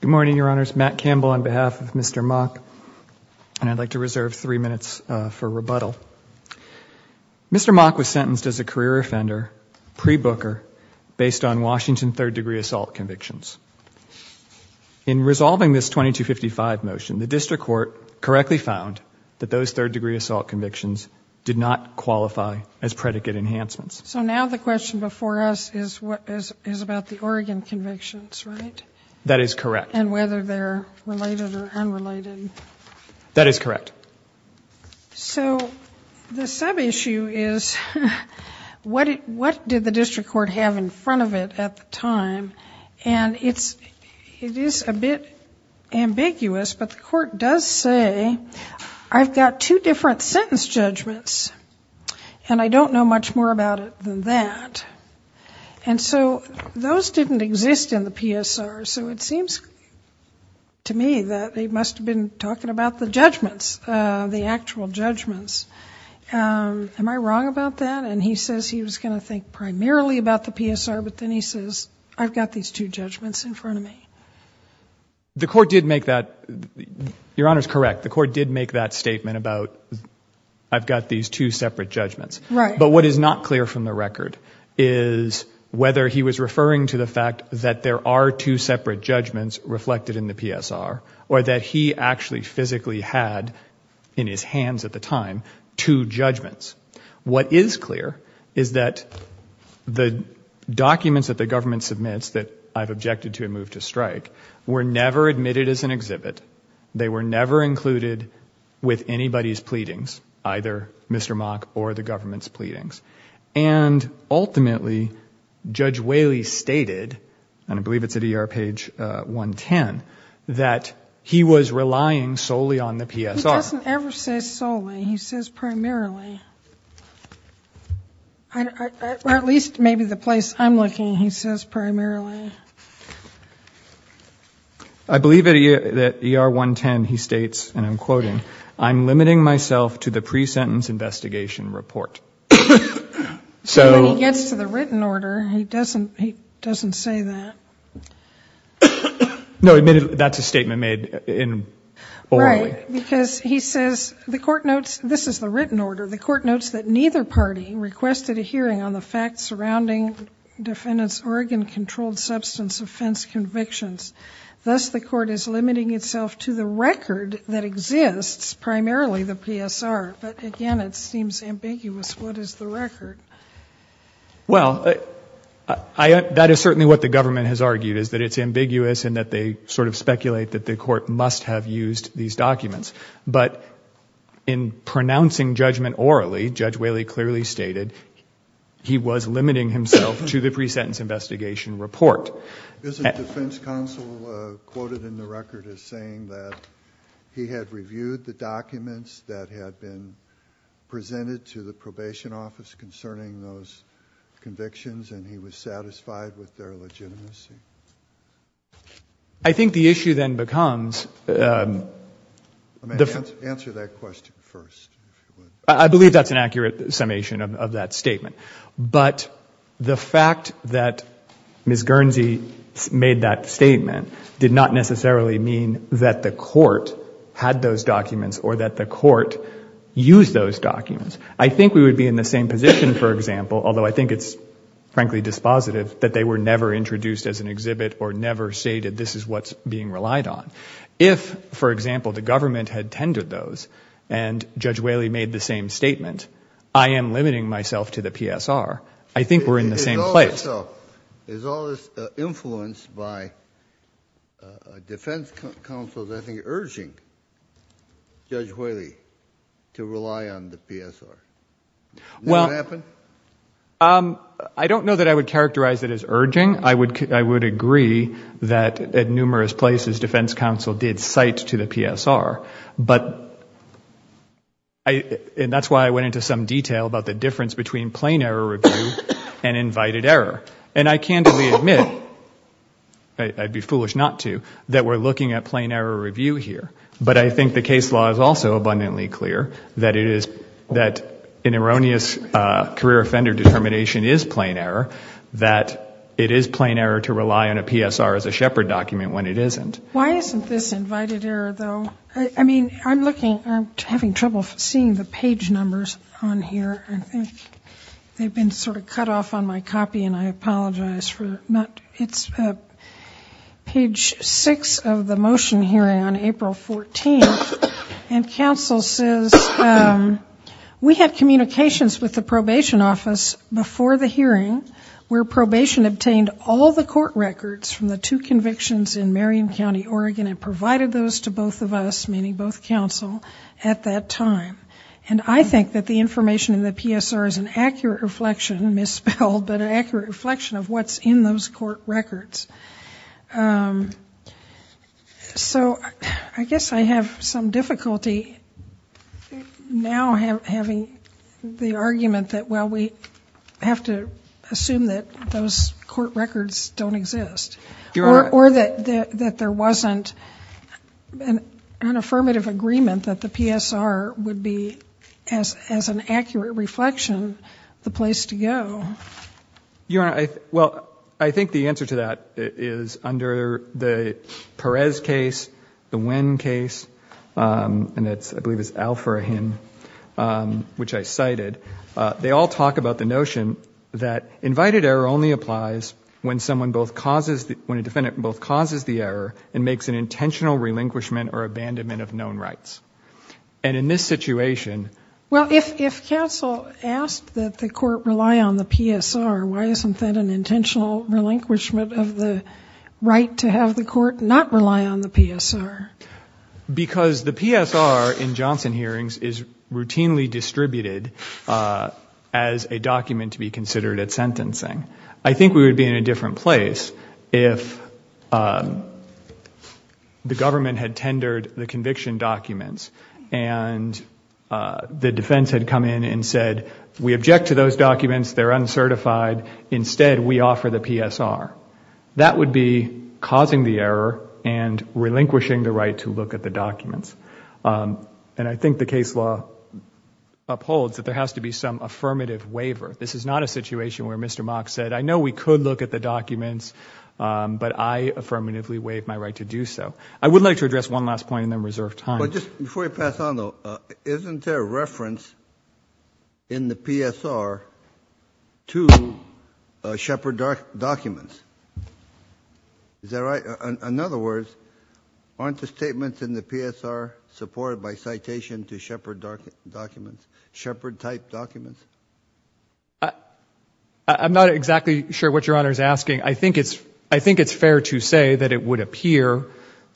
Good morning, Your Honors. Matt Campbell on behalf of Mr. Mock and I'd like to reserve three minutes for rebuttal. Mr. Mock was sentenced as a career offender pre-Booker based on Washington third-degree assault convictions. In resolving this 2255 motion, the district court correctly found that those third-degree assault convictions did not qualify as predicate enhancements. So now the question before us is what is about the Oregon convictions, right? That is correct. And whether they're related or unrelated? That is correct. So the sub issue is what did the district court have in front of it at the time? And it's it is a bit ambiguous but the court does say I've got two different sentence judgments and I don't know much more about it than that. And so those didn't exist in the PSR so it seems to me that they must have been talking about the judgments, the actual judgments. Am I wrong about that? And he says he was gonna think primarily about the PSR but then he says I've got these two judgments in front of me. The court did make that, Your Honors, correct. The court did make that statement about I've got these two separate judgments. Right. But what is not clear from the record is whether he was referring to the fact that there are two separate judgments reflected in the PSR or that he actually physically had in his hands at the time two judgments. What is clear is that the documents that the government submits that I've objected to a move to strike were never admitted as an exhibit. They were never included with anybody's pleadings, either Mr. Mock or the government's pleadings. And ultimately Judge Whaley stated, and I believe it's at ER page 110, that he was relying solely on the PSR. He doesn't ever say solely, he says primarily. Or at least maybe the place I'm looking, he says primarily. I believe that at ER 110 he states, and I'm quoting, I'm limiting myself to the pre-sentence investigation report. So he gets to the written order, he doesn't, he doesn't say that. No, admitted that's a statement made in orally. Right, because he says the court notes, this is the written order, the defendant's organ-controlled substance offense convictions. Thus the court is limiting itself to the record that exists, primarily the PSR. But again, it seems ambiguous. What is the record? Well, that is certainly what the government has argued, is that it's ambiguous and that they sort of speculate that the court must have used these documents. But in pronouncing judgment orally, Judge Whaley, I think the issue then becomes, I believe that's an accurate summation of that statement. But the fact that Ms. Guernsey made that statement did not necessarily mean that the court had those documents or that the court used those documents. I think we would be in the same position, for example, although I think it's frankly dispositive that they were never introduced as an exhibit or never stated this is what's being relied on. If, for example, the government had tendered those and Judge Whaley made the same statement, I am limiting myself to the PSR. I think we're in the same place. Is all this influenced by defense counsels, I think, urging Judge Whaley to rely on the PSR? Well, I don't know that I would characterize it as urging. I would agree that at numerous places defense counsel did cite to the PSR. But, and that's why I went into some detail about the difference between plain error review and invited error. And I candidly admit, I'd be foolish not to, that we're looking at plain error review here. But I think the case law is also abundantly clear that it is, that an erroneous career offender determination is plain error, that it is plain error to rely on a PSR as a shepherd document when it isn't. Why isn't this invited error, though? I mean, I'm looking, I'm having trouble seeing the page numbers on here. I think they've been sort of cut off on my copy and I apologize for not, it's page six of the motion hearing on April 14th. And counsel says, we had communications with the probation office before the hearing where probation obtained all the court records from the two convictions in Marion County, Oregon and provided those to both of us, meaning both counsel, at that time. And I think that the information in the PSR is an accurate reflection, misspelled, but an accurate reflection of what's in those court records. Um, so I guess I have some difficulty now having the argument that, well, we have to assume that those court records don't exist or that there wasn't an affirmative agreement that the PSR would be, as an accurate reflection, the place to go. Your Honor, I, well, I think the answer to that is under the Perez case, the Winn case, and it's, I believe it's Al-Furahin, which I cited. They all talk about the notion that invited error only applies when someone both causes, when a defendant both causes the error and makes an intentional relinquishment or abandonment of known rights. And in this situation. Well, if, if counsel asked that the court rely on the PSR, why isn't that an intentional relinquishment of the right to have the court not rely on the PSR? Because the PSR in Johnson hearings is routinely distributed, uh, as a document to be considered at sentencing. I think we would be in a different place if, um, the government had tendered the conviction documents and, uh, the defense had come in and said, we object to those documents, they're uncertified. Instead, we offer the PSR. That would be causing the error and relinquishing the right to look at the documents. Um, and I think the case law upholds that there has to be some affirmative waiver. This is not a situation where Mr. Mock said, I know we could look at the documents, um, but I affirmatively waive my right to do so. I would like to address one last point and then reserve time. But just before you pass on though, uh, isn't there a reference in the PSR to, uh, Shepard dark documents? Is that right? In other words, aren't the statements in the PSR supported by citation to Shepard dark documents, Shepard type documents? Uh, I'm not exactly sure what your honor is asking. I think it's, I think it's fair to say that it would appear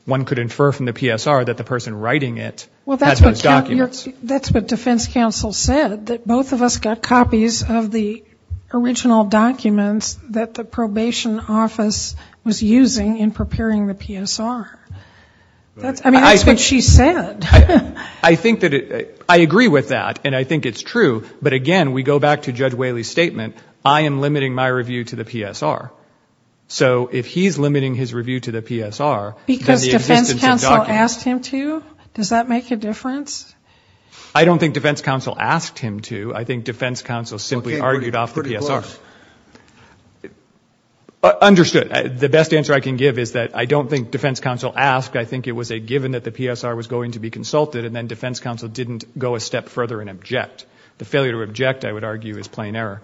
one could infer from the PSR that the person writing it, well, that's what documents, that's what defense counsel said, that both of us got copies of the original documents that the probation office was using in preparing the PSR. That's, I mean, I think she said, I think that I agree with that and I think it's true. But again, we go back to judge Whaley statement. I am limiting my review to the PSR. So if he's reviewed to the PSR, because defense counsel asked him to, does that make a difference? I don't think defense counsel asked him to, I think defense counsel simply argued off the PSR understood the best answer I can give is that I don't think defense counsel asked. I think it was a given that the PSR was going to be consulted and then defense counsel didn't go a step further and object. The failure to object I would argue is plain error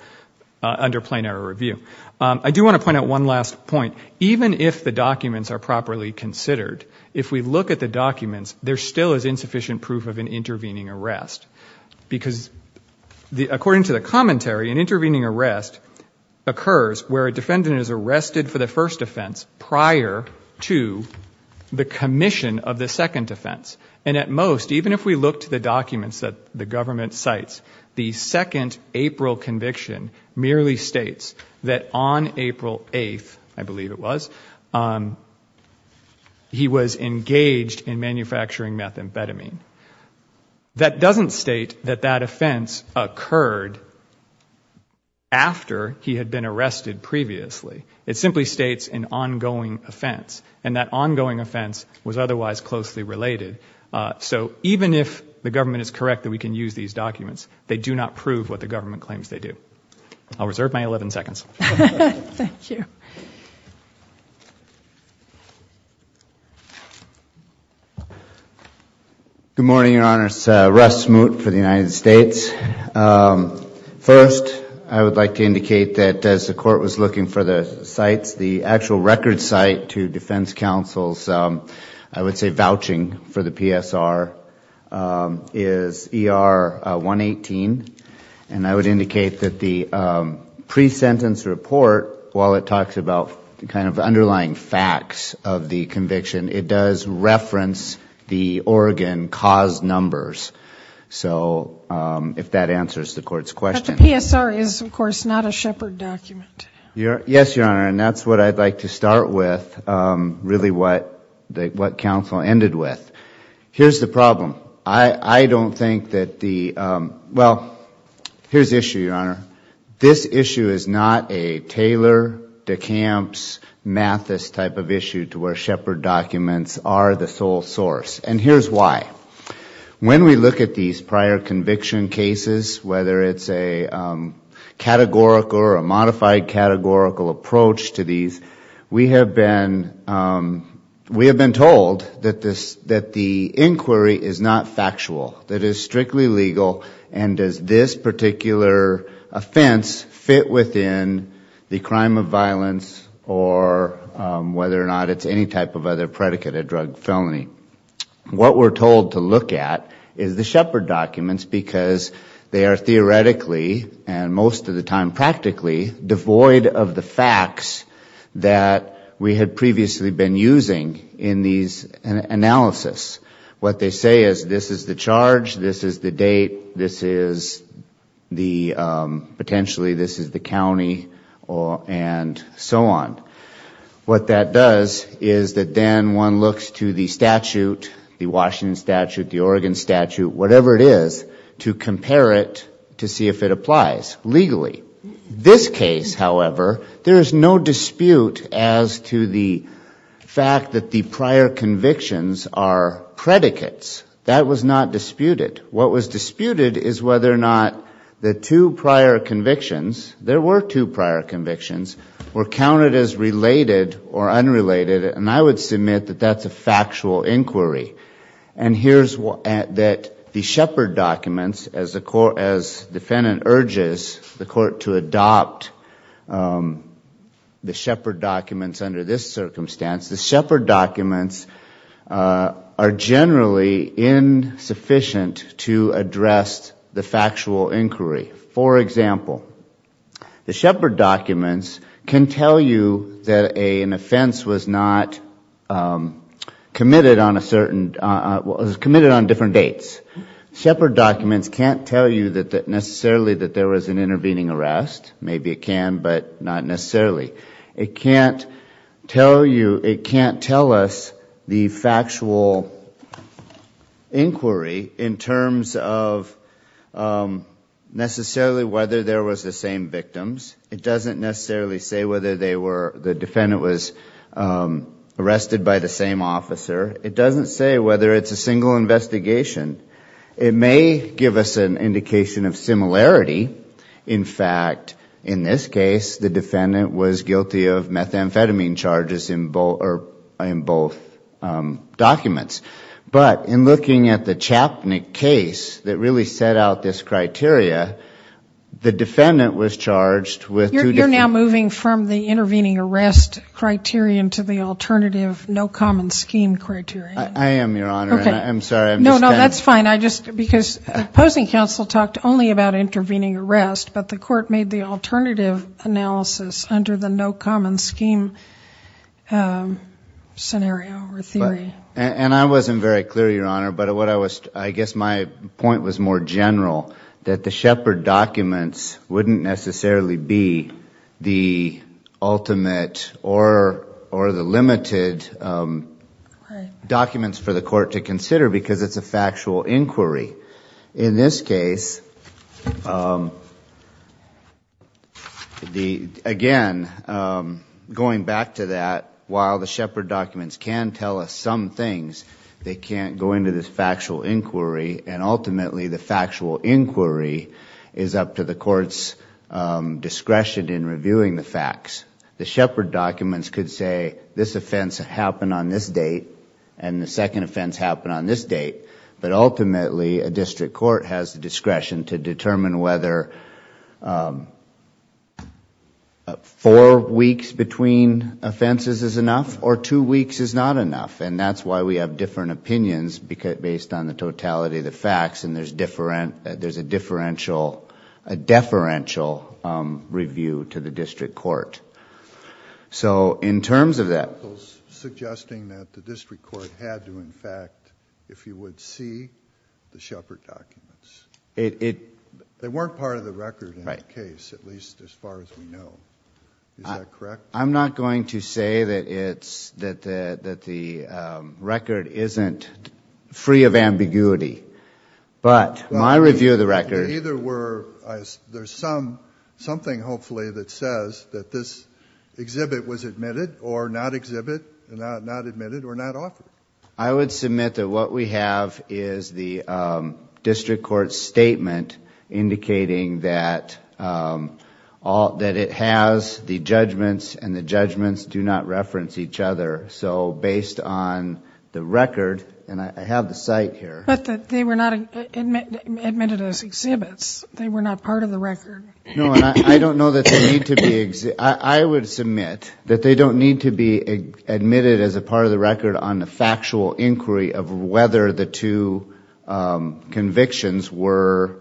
under plain error review. I do want to point out one last point. Even if the documents are properly considered, if we look at the documents, there still is insufficient proof of an intervening arrest. Because according to the commentary, an intervening arrest occurs where a defendant is arrested for the first offense prior to the commission of the second offense. And at most, even if we look to the documents that the government cites, the second April conviction merely states that on April 8th, I believe it was, he was engaged in manufacturing methamphetamine. That doesn't state that that offense occurred after he had been arrested previously. It simply states an ongoing offense. And that ongoing offense was otherwise closely related. So even if the government is correct that we can use these documents, they do not prove what the government claims they do. I'll reserve my 11 seconds. Good morning, Your Honors. Russ Smoot for the United States. First, I would like to indicate that as the Court was looking for the sites, the actual record site to defense and I would indicate that the pre-sentence report, while it talks about the kind of underlying facts of the conviction, it does reference the Oregon cause numbers. So if that answers the Court's question. But the PSR is, of course, not a Shepard document. Yes, Your Honor, and that's what I'd like to start with, really what counsel ended with. Here's the problem. I don't think that the, well, here's the issue, Your Honor. This issue is not a Taylor, DeCamps, Mathis type of issue to where Shepard documents are the sole source. And here's why. When we look at these prior conviction cases, whether it's a categorical or a modified categorical approach to these, we have been told that the inquiry is not factual. That it is strictly legal and does this particular offense fit within the crime of violence or whether or not it's any type of other predicate of drug felony. What we're told to look at is the Shepard documents because they are theoretically, and most of the time practically, devoid of the facts that we had previously been using in these analysis. What they say is this is the charge, this is the date, this is the, potentially this is the county, and so on. What that does is that then one looks to the statute, the Washington statute, the Oregon statute, there is no dispute as to the fact that the prior convictions are predicates. That was not disputed. What was disputed is whether or not the two prior convictions, there were two prior convictions, were counted as related or unrelated. And I would submit that that's a factual inquiry. And here's that the Shepard documents, as defendant urges the court to adopt the Shepard documents under this circumstance, the Shepard documents are generally insufficient to address the factual inquiry. For example, the Shepard documents can tell you that an offense was not committed on a certain, was committed on different dates. Shepard documents can't tell you that necessarily that there was an intervening arrest. Maybe it can, but not necessarily. It can't tell you, it can't tell us the factual inquiry in terms of necessarily whether there was the same victims. It doesn't necessarily say whether they were, the defendant was arrested by the same officer. It doesn't say whether it's a single investigation. It may give us an indication of similarity. In fact, in this case, the defendant was guilty of methamphetamine charges in both documents. But in looking at the Chapnick case that really set out this criteria, the defendant was charged with two different... You're now moving from the intervening arrest criterion to the alternative no common scheme criterion. I am, Your Honor, and I'm sorry, I'm just kind of... No, no, that's fine. I just, because opposing counsel talked only about intervening arrest, but the court made the alternative analysis under the no common scheme scenario or theory. And I wasn't very clear, Your Honor, but what I was, I guess my point was more general, that the Shepard documents wouldn't necessarily be the ultimate or the limited documents for the court to consider because it's a factual inquiry. In this case, again, going back to that, while the Shepard documents can tell us some things, they can't go into this factual inquiry is up to the court's discretion in reviewing the facts. The Shepard documents could say this offense happened on this date and the second offense happened on this date, but ultimately a district court has the discretion to determine whether four weeks between offenses is enough or two weeks is not enough. And that's why we have different opinions based on the totality of the facts, and there's a deferential review to the district court. So in terms of that...... suggesting that the district court had to, in fact, if you would, see the Shepard documents. They weren't part of the record in the case, at least as far as we know. Is that correct? I'm not going to say that the record isn't free of ambiguity, but my review of the record... Well, there either were... there's something, hopefully, that says that this exhibit was admitted or not admitted or not offered. I would submit that what we have is the district court's statement indicating that it has the facts and the judgments do not reference each other. So based on the record, and I have the cite here... But they were not admitted as exhibits. They were not part of the record. No, and I don't know that they need to be... I would submit that they don't need to be admitted as a part of the record on the factual inquiry of whether the two convictions were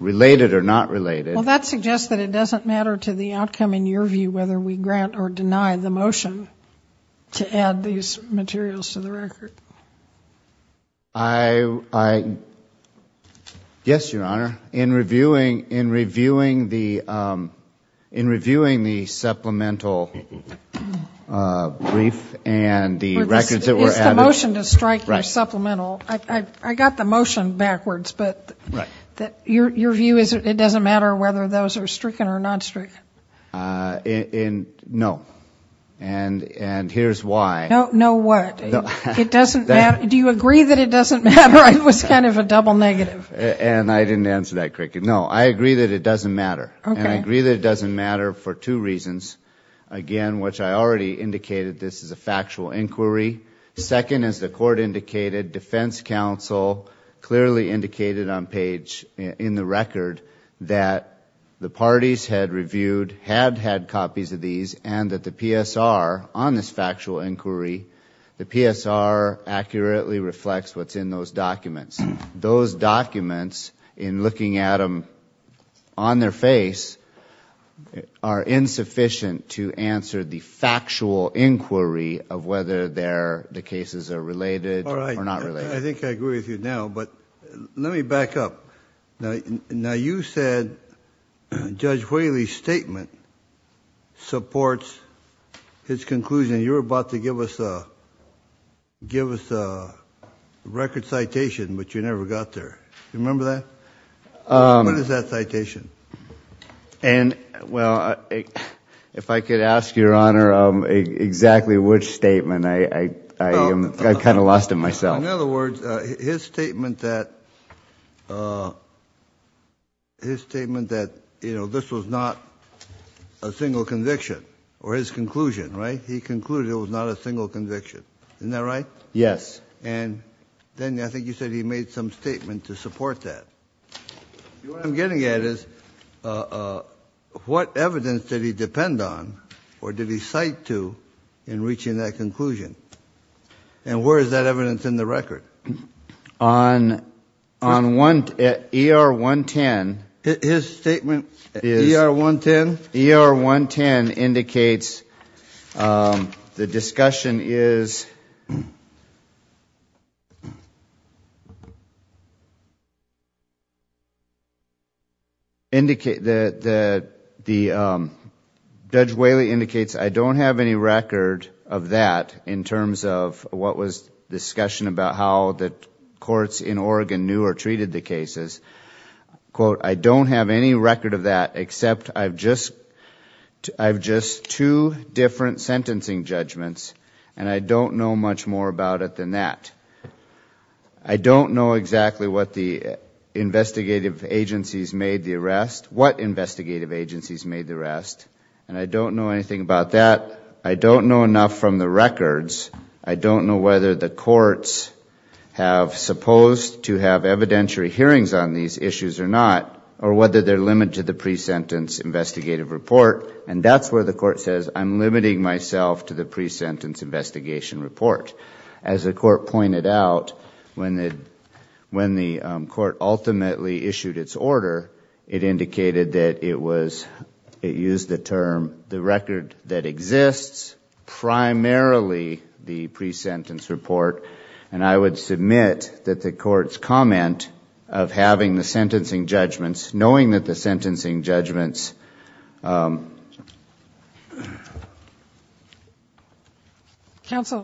related or not related. Well, that suggests that it doesn't matter to the outcome in your view whether we grant or deny the motion to add these materials to the record. I... yes, Your Honor. In reviewing the supplemental brief and the records that were added... Is the motion to strike your supplemental... I got the motion backwards, but your question was whether those are stricken or not stricken. No, and here's why. No what? Do you agree that it doesn't matter? It was kind of a double negative. And I didn't answer that correctly. No, I agree that it doesn't matter. Okay. And I agree that it doesn't matter for two reasons. Again, which I already indicated this is a factual inquiry. Second, as the court indicated, defense counsel clearly indicated on page... in the record that the parties had reviewed, had had copies of these, and that the PSR, on this factual inquiry, the PSR accurately reflects what's in those documents. Those documents, in looking at them on their face, are insufficient to answer the factual inquiry of whether the cases are related or not related. I think I agree with you now, but let me back up. Now you said Judge Whaley's statement supports his conclusion. You were about to give us a record citation, but you never got there. Do you remember that? What is that citation? If I could ask, Your Honor, exactly which statement, I kind of lost it myself. In other words, his statement that, you know, this was not a single conviction, or his conclusion, right? He concluded it was not a single conviction. Isn't that right? Yes. And then I think you said he made some statement to support that. What I'm getting at is, what evidence did he depend on, or did he cite to, in reaching that conclusion? And where is that evidence in the record? On ER-110. His statement, ER-110? ER-110 indicates the discussion is, Judge Whaley indicates, I don't have any record of that in terms of what was discussion about how the courts in Oregon knew or treated the I have just two different sentencing judgments, and I don't know much more about it than that. I don't know exactly what the investigative agencies made the arrest, what investigative agencies made the arrest, and I don't know anything about that. I don't know enough from the records. I don't know whether the courts have supposed to have evidentiary hearings on these issues or not, or whether they're limited to the pre-sentence investigative report, and that's where the court says, I'm limiting myself to the pre-sentence investigation report. As the court pointed out, when the court ultimately issued its order, it indicated that it was, it used the term, the record that exists, primarily the pre-sentence report, and I would submit that the court's comment of having the sentencing judgments, knowing that the sentencing judgments, counsel,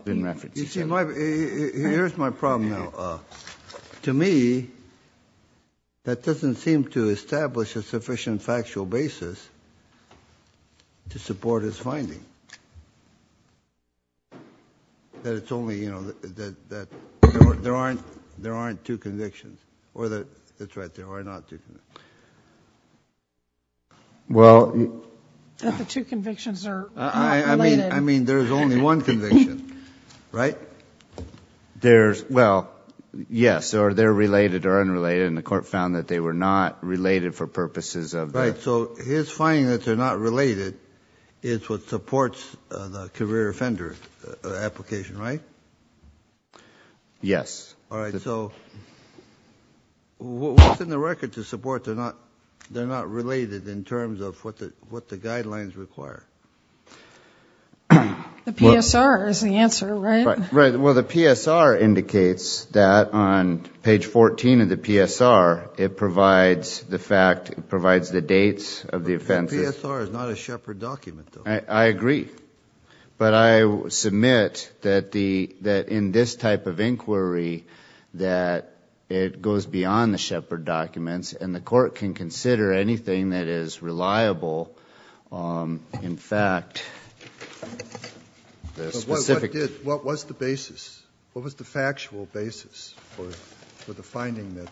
here's my problem now. To me, that doesn't seem to there aren't two convictions, or that's right, there are not two convictions. That the two convictions are not related. I mean, there's only one conviction, right? There's, well, yes, or they're related or unrelated, and the court found that they were not related for purposes of the Right, so his finding that they're not related is what supports the career offender application, right? Yes. All right, so what's in the record to support they're not related in terms of what the guidelines require? The PSR is the answer, right? Right, well, the PSR indicates that on page 14 of the PSR, it provides the fact, it provides the dates of the offenses. The PSR is not a Shepard document, though. I agree, but I submit that in this type of inquiry, that it goes beyond the Shepard documents, and the court can consider anything that is reliable. In fact, the specific What was the basis? What was the factual basis for the finding that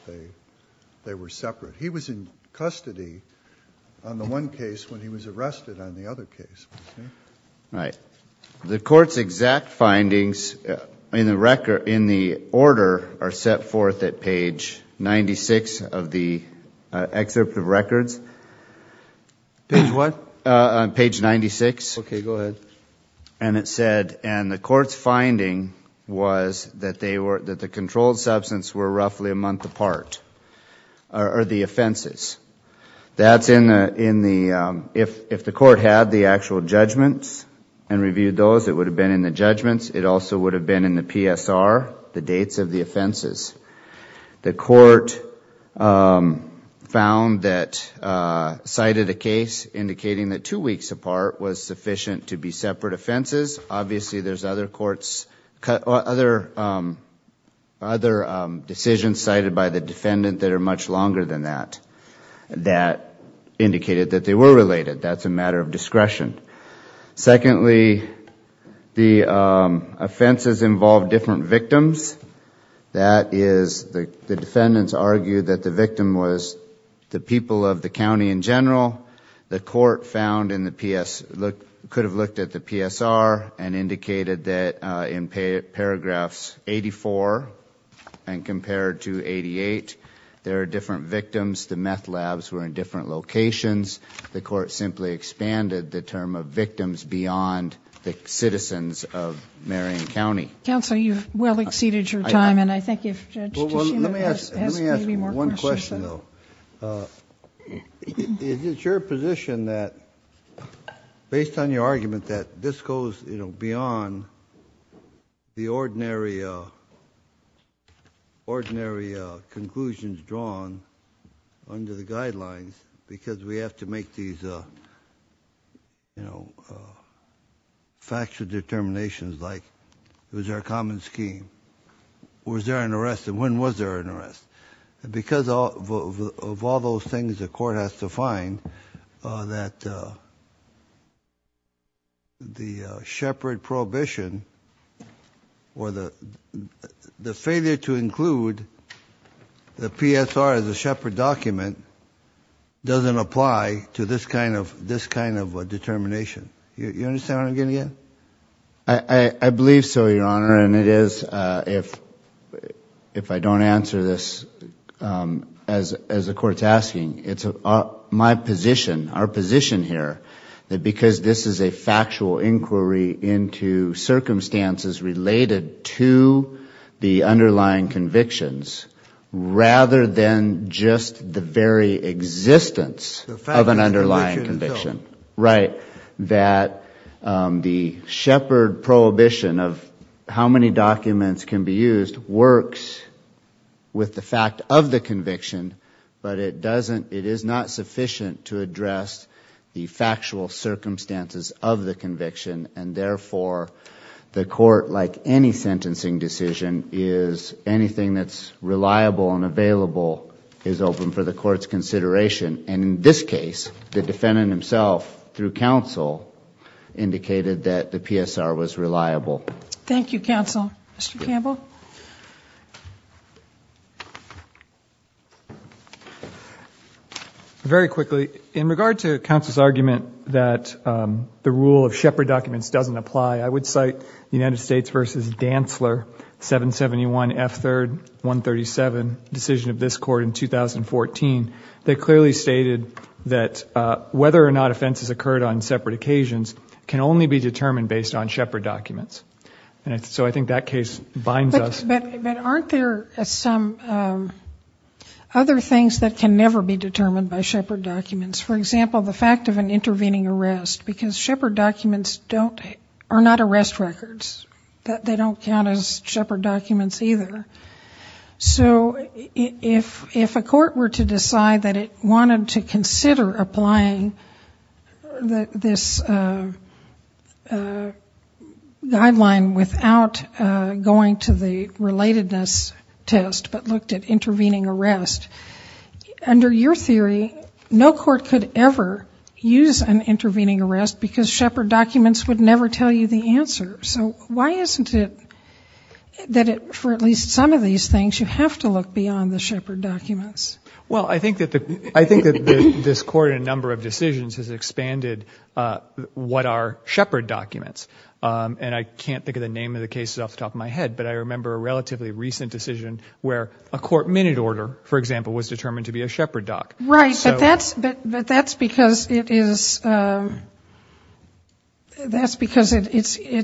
they were separate? He was in custody on the one case when he was arrested on the other case. Right. The court's exact findings in the order are set forth at page 96 of the excerpt of records. Page what? Page 96. Okay, go ahead. And it said, and the court's finding was that the controlled substance were roughly a month apart, are the offenses. That's in the, if the court had the actual judgments and reviewed those, it would have been in the judgments. It also would have been in the PSR, the dates of the offenses. The court found that, cited a case indicating that two weeks apart was sufficient to be separate offenses. Obviously, there's other courts, other decisions cited by the defendant that are much longer than that, that indicated that they were related. That's a matter of discretion. Secondly, the offenses involved different victims. That is, the defendants argued that the victim was the people of the county in general. The court found in the PS, could have looked at the PSR and indicated that in paragraphs 84 and compared to 88, there are different victims. The meth labs were in different locations. The court simply expanded the term of victims beyond the citizens of Marion County. Counsel, you've well exceeded your time, and I think if Judge Ticino has maybe more questions. It's your position that, based on your argument that this goes beyond the ordinary conclusions drawn under the guidelines, because we have to make these factual determinations like, was there a common scheme? Was there an arrest, and when was there an arrest? Because of all those things, the court has to find that the shepherd prohibition, or the failure to include the PSR as a shepherd document, doesn't apply to this kind of determination. You understand what I'm getting at? I believe so, Your Honor, and it is, if I don't answer this as the court's asking, it's my position, our position here, that because this is a factual inquiry into circumstances related to the underlying convictions, rather than just the very existence of an underlying conviction. That the shepherd prohibition of how many documents can be used works with the fact of the conviction, but it is not sufficient to address the factual circumstances of the conviction, and therefore the court, like any sentencing decision, is anything that's reliable and available is open for the court's consideration. And in this case, the defendant himself, through counsel, indicated that the PSR was reliable. Thank you, counsel. Mr. Campbell? Very quickly, in regard to counsel's argument that the rule of shepherd documents doesn't apply, I would cite the United States v. Dantzler, 771 F. 3rd, 137, decision of this court in 2014, that clearly stated that whether or not offenses occurred on separate occasions can only be determined based on shepherd documents. So I think that case binds us. But aren't there some other things that can never be determined by shepherd documents? For example, the fact of an intervening arrest, because shepherd documents are not arrest records. They don't count as shepherd documents either. So if a court were to decide that it wanted to consider applying this guideline without going to the relatedness test but looked at intervening arrest, under your theory, no court could ever use an intervening arrest because shepherd documents would never tell you the answer. So why isn't it that for at least some of these things, you have to look beyond the shepherd documents? Well, I think that this court in a number of decisions has expanded what are shepherd documents. And I can't think of the name of the cases off the top of my head, but I remember a relatively recent decision where a court minute order, for example, was determined to be a shepherd doc. Right, but that's because it is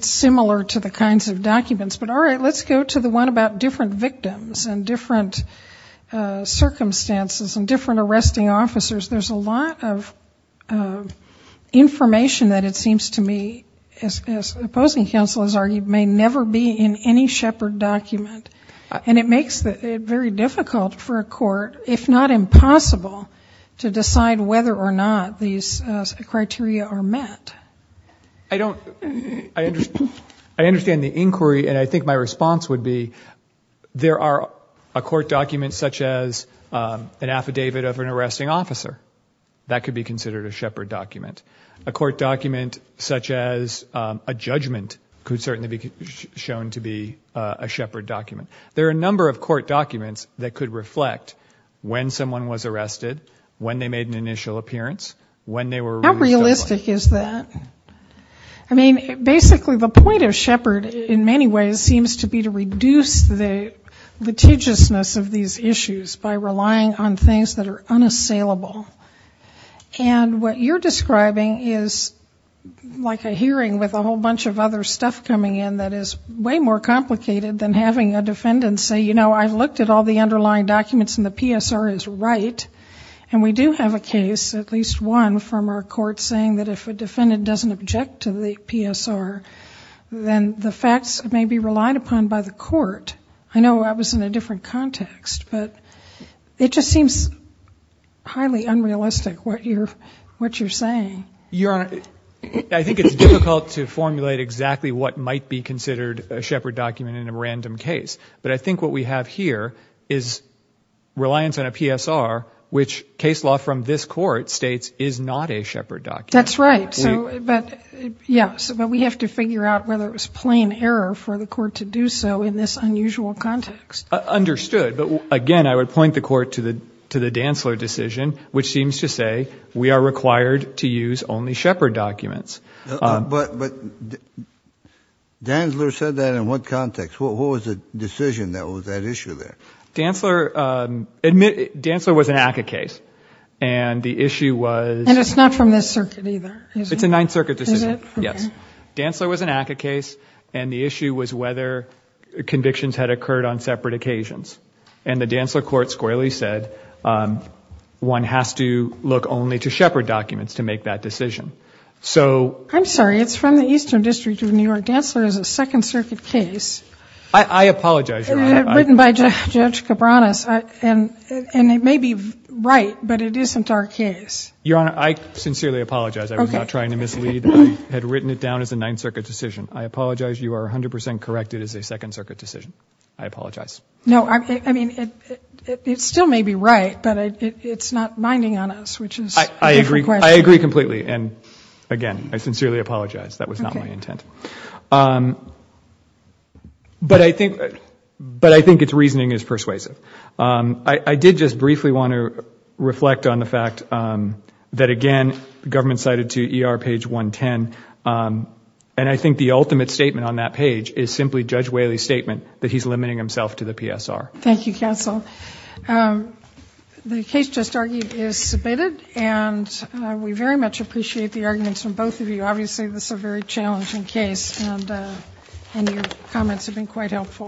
similar to the kinds of documents. But all right, let's go to the one about different victims and different circumstances and different arresting officers. There's a lot of information that it seems to me, as opposing counsel has argued, may never be in any shepherd document. And it makes it very difficult for a court, if not impossible, to decide whether or not these criteria are met. I understand the inquiry, and I think my response would be there are a court document such as an affidavit of an arresting officer. That could be considered a shepherd document. A court document such as a judgment could certainly be shown to be a shepherd document. There are a number of court documents that could reflect when someone was arrested, when they made an initial appearance, when they were released. How realistic is that? I mean, basically the point of shepherd, in many ways, seems to be to reduce the litigiousness of these issues by relying on things that are unassailable. And what you're describing is like a hearing with a whole bunch of other stuff coming in that is way more complicated than having a defendant say, you know, I've looked at all the underlying documents and the PSR is right. And we do have a case, at least one, from our court saying that if a defendant doesn't object to the PSR, then the facts may be relied upon by the court. I know I was in a different context, but it just seems highly unrealistic what you're saying. I think it's difficult to formulate exactly what might be considered a shepherd document in a random case. But I think what we have here is reliance on a PSR, which case law from this court states is not a shepherd document. That's right. Yes, but we have to figure out whether it was plain error for the court to do so in this unusual context. Understood. But, again, I would point the court to the Dantzler decision, which seems to say we are required to use only shepherd documents. But Dantzler said that in what context? What was the decision that was at issue there? Dantzler was an ACCA case. And the issue was. And it's not from this circuit either, is it? It's a Ninth Circuit decision. Is it? Yes. Dantzler was an ACCA case, and the issue was whether convictions had occurred on separate occasions. And the Dantzler court squarely said one has to look only to shepherd documents to make that decision. So. I'm sorry, it's from the Eastern District of New York. Dantzler is a Second Circuit case. I apologize, Your Honor. Written by Judge Cabranes. And it may be right, but it isn't our case. Your Honor, I sincerely apologize. I was not trying to mislead. I had written it down as a Ninth Circuit decision. I apologize. You are 100 percent correct. It is a Second Circuit decision. I apologize. No, I mean, it still may be right, but it's not binding on us, which is a different question. I agree. I agree completely. And, again, I sincerely apologize. That was not my intent. But I think its reasoning is persuasive. I did just briefly want to reflect on the fact that, again, the government cited to ER page 110. And I think the ultimate statement on that page is simply Judge Whaley's statement that he's limiting himself to the PSR. Thank you, counsel. The case just argued is submitted. And we very much appreciate the arguments from both of you. Obviously, this is a very challenging case. And your comments have been quite helpful.